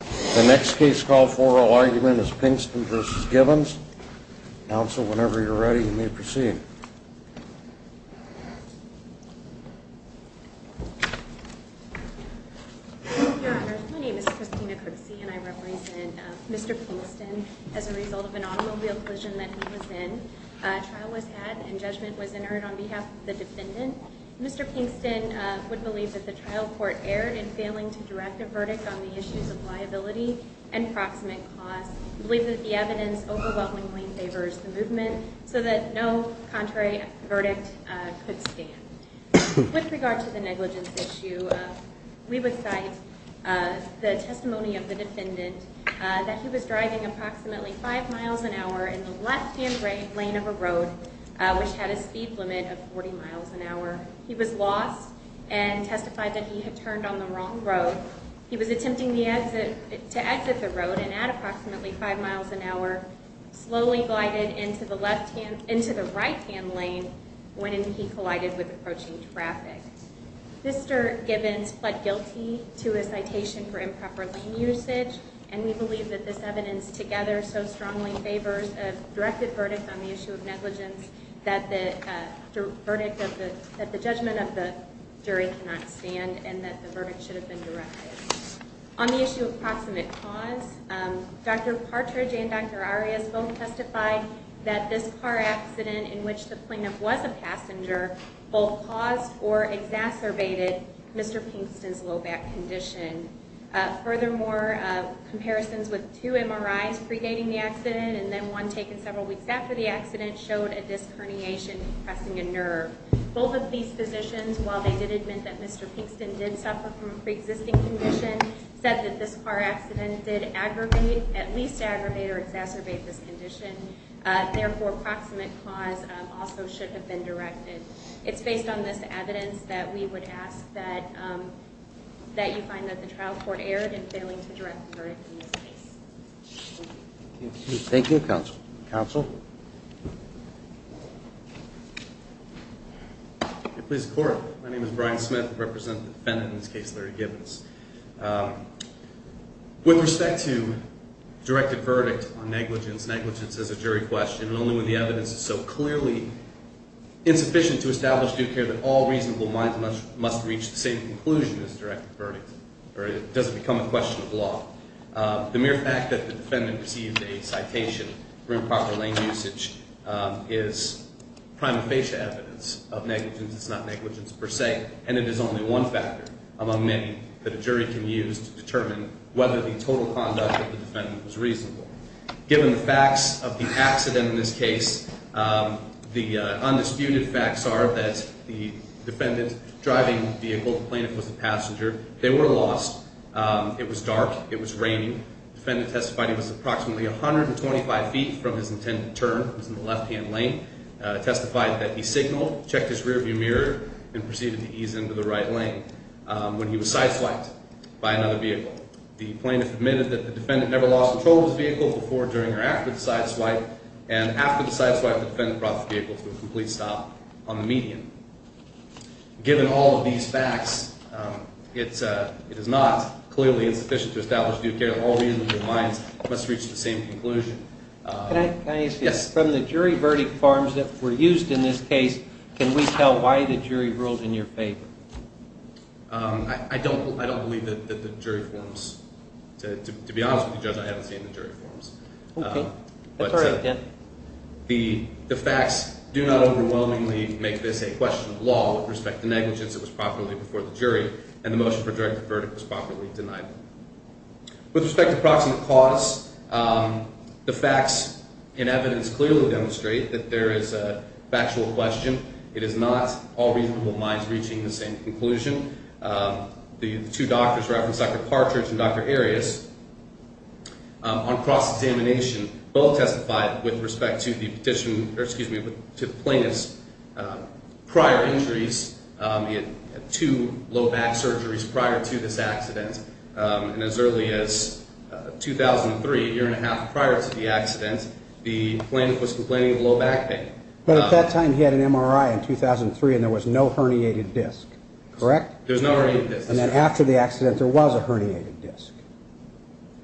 The next case call for oral argument is Pinkston v. Gibbons. Counsel, whenever you're ready, you may proceed. Your Honor, my name is Christina Crixi and I represent Mr. Pinkston. As a result of an automobile collision that he was in, a trial was had and judgment was entered on behalf of the defendant. Mr. Pinkston would believe that the trial court erred in failing to direct a verdict on the issues of liability and proximate cost. We believe that the evidence overwhelmingly favors the movement so that no contrary verdict could stand. With regard to the negligence issue, we would cite the testimony of the defendant that he was driving approximately 5 miles an hour in the left-hand lane of a road which had a speed limit of 40 miles an hour. He was lost and testified that he had turned on the wrong road. He was attempting to exit the road at approximately 5 miles an hour, slowly glided into the right-hand lane when he collided with approaching traffic. Mr. Gibbons pled guilty to a citation for improper lane usage and we believe that this evidence together so strongly favors a directed verdict on the issue of negligence that the judgment of the jury cannot stand and that the verdict should have been directed. On the issue of proximate cause, Dr. Partridge and Dr. Arias both testified that this car accident in which the plaintiff was a passenger both caused or exacerbated Mr. Pinkston's low back condition. Furthermore, comparisons with two MRIs predating the accident and then one taken several weeks after the accident showed a disc herniation compressing a nerve. Both of these physicians, while they did admit that Mr. Pinkston did suffer from a pre-existing condition, said that this car accident did aggravate, at least aggravate or exacerbate this condition. Therefore, proximate cause also should have been directed. It's based on this evidence that we would ask that you find that the trial court erred in failing to direct the verdict in this case. Thank you, counsel. Counsel? If it pleases the court, my name is Brian Smith. I represent the defendant in this case, Larry Gibbons. With respect to directed verdict on negligence, negligence is a jury question and only when the evidence is so clearly insufficient to establish due care that all reasonable minds must reach the same conclusion as directed verdict or it doesn't become a question of law. The mere fact that the defendant received a citation for improper lane usage is prima facie evidence of negligence. It's not negligence per se, and it is only one factor among many that a jury can use to determine whether the total conduct of the defendant was reasonable. Given the facts of the accident in this case, the undisputed facts are that the defendant's driving vehicle, the plaintiff was a passenger. They were lost. It was dark. It was raining. The defendant testified he was approximately 125 feet from his intended turn. He was in the left-hand lane, testified that he signaled, checked his rearview mirror, and proceeded to ease into the right lane when he was sideswiped by another vehicle. The plaintiff admitted that the defendant never lost control of his vehicle before, during, or after the sideswipe, and after the sideswipe, the defendant brought the vehicle to a complete stop on the median. Given all of these facts, it is not clearly insufficient to establish due care. All reasons in mind must reach the same conclusion. Can I ask you, from the jury verdict forms that were used in this case, can we tell why the jury ruled in your favor? I don't believe that the jury forms. To be honest with you, Judge, I haven't seen the jury forms. Okay. That's all right, then. The facts do not overwhelmingly make this a question of law with respect to negligence. It was properly before the jury, and the motion for a direct verdict was properly denied. With respect to proximate cause, the facts and evidence clearly demonstrate that there is a factual question. It is not all reasonable minds reaching the same conclusion. The two doctors referenced, Dr. Partridge and Dr. Arias, on cross-examination, both testified with respect to the plaintiff's prior injuries. He had two low back surgeries prior to this accident. And as early as 2003, a year and a half prior to the accident, the plaintiff was complaining of low back pain. But at that time, he had an MRI in 2003, and there was no herniated disc. Correct? There was no herniated disc. And then after the accident, there was a herniated disc.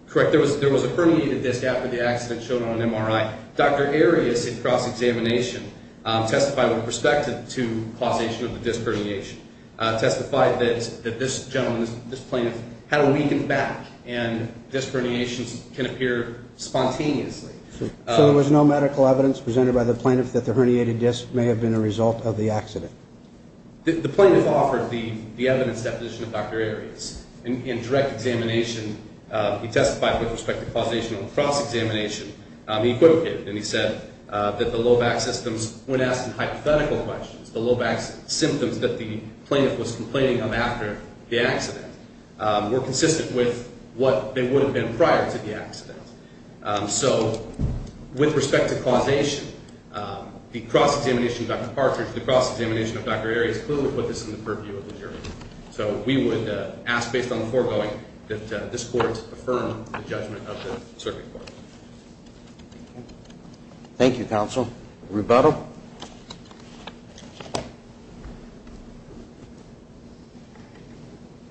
Correct. There was a herniated disc after the accident showed on an MRI. Dr. Arias, in cross-examination, testified with respect to causation of the disc herniation, testified that this gentleman, this plaintiff, had a weakened back, and disc herniations can appear spontaneously. So there was no medical evidence presented by the plaintiff that the herniated disc may have been a result of the accident? The plaintiff offered the evidence deposition of Dr. Arias. In direct examination, he testified with respect to causation on cross-examination. He equivocated, and he said that the low back systems, when asked in hypothetical questions, the low back symptoms that the plaintiff was complaining of after the accident were consistent with what they would have been prior to the accident. So with respect to causation, the cross-examination of Dr. Partridge, the cross-examination of Dr. Arias, clearly put this in the purview of the jury. So we would ask, based on the foregoing, that this court affirm the judgment of the circuit court. Thank you, counsel. Rebuttal?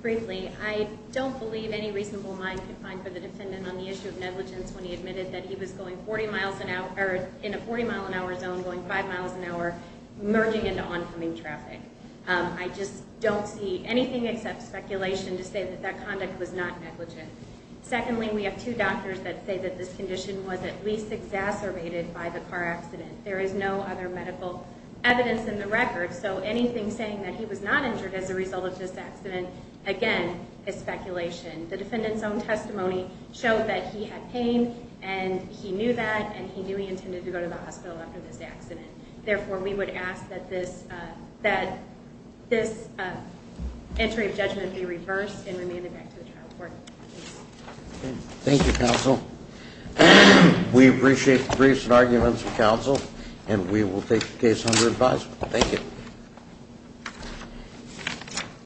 Briefly, I don't believe any reasonable mind could find for the defendant on the issue of negligence when he admitted that he was in a 40-mile-an-hour zone going 5 miles an hour, merging into oncoming traffic. I just don't see anything except speculation to say that that conduct was not negligent. Secondly, we have two doctors that say that this condition was at least exacerbated by the car accident. There is no other medical evidence in the record. So anything saying that he was not injured as a result of this accident, again, is speculation. The defendant's own testimony showed that he had pain, and he knew that, and he knew he intended to go to the hospital after this accident. Therefore, we would ask that this entry of judgment be reversed and remanded back to the trial court. Thank you, counsel. We appreciate the briefs and arguments of counsel, and we will take the case under advisement. Thank you.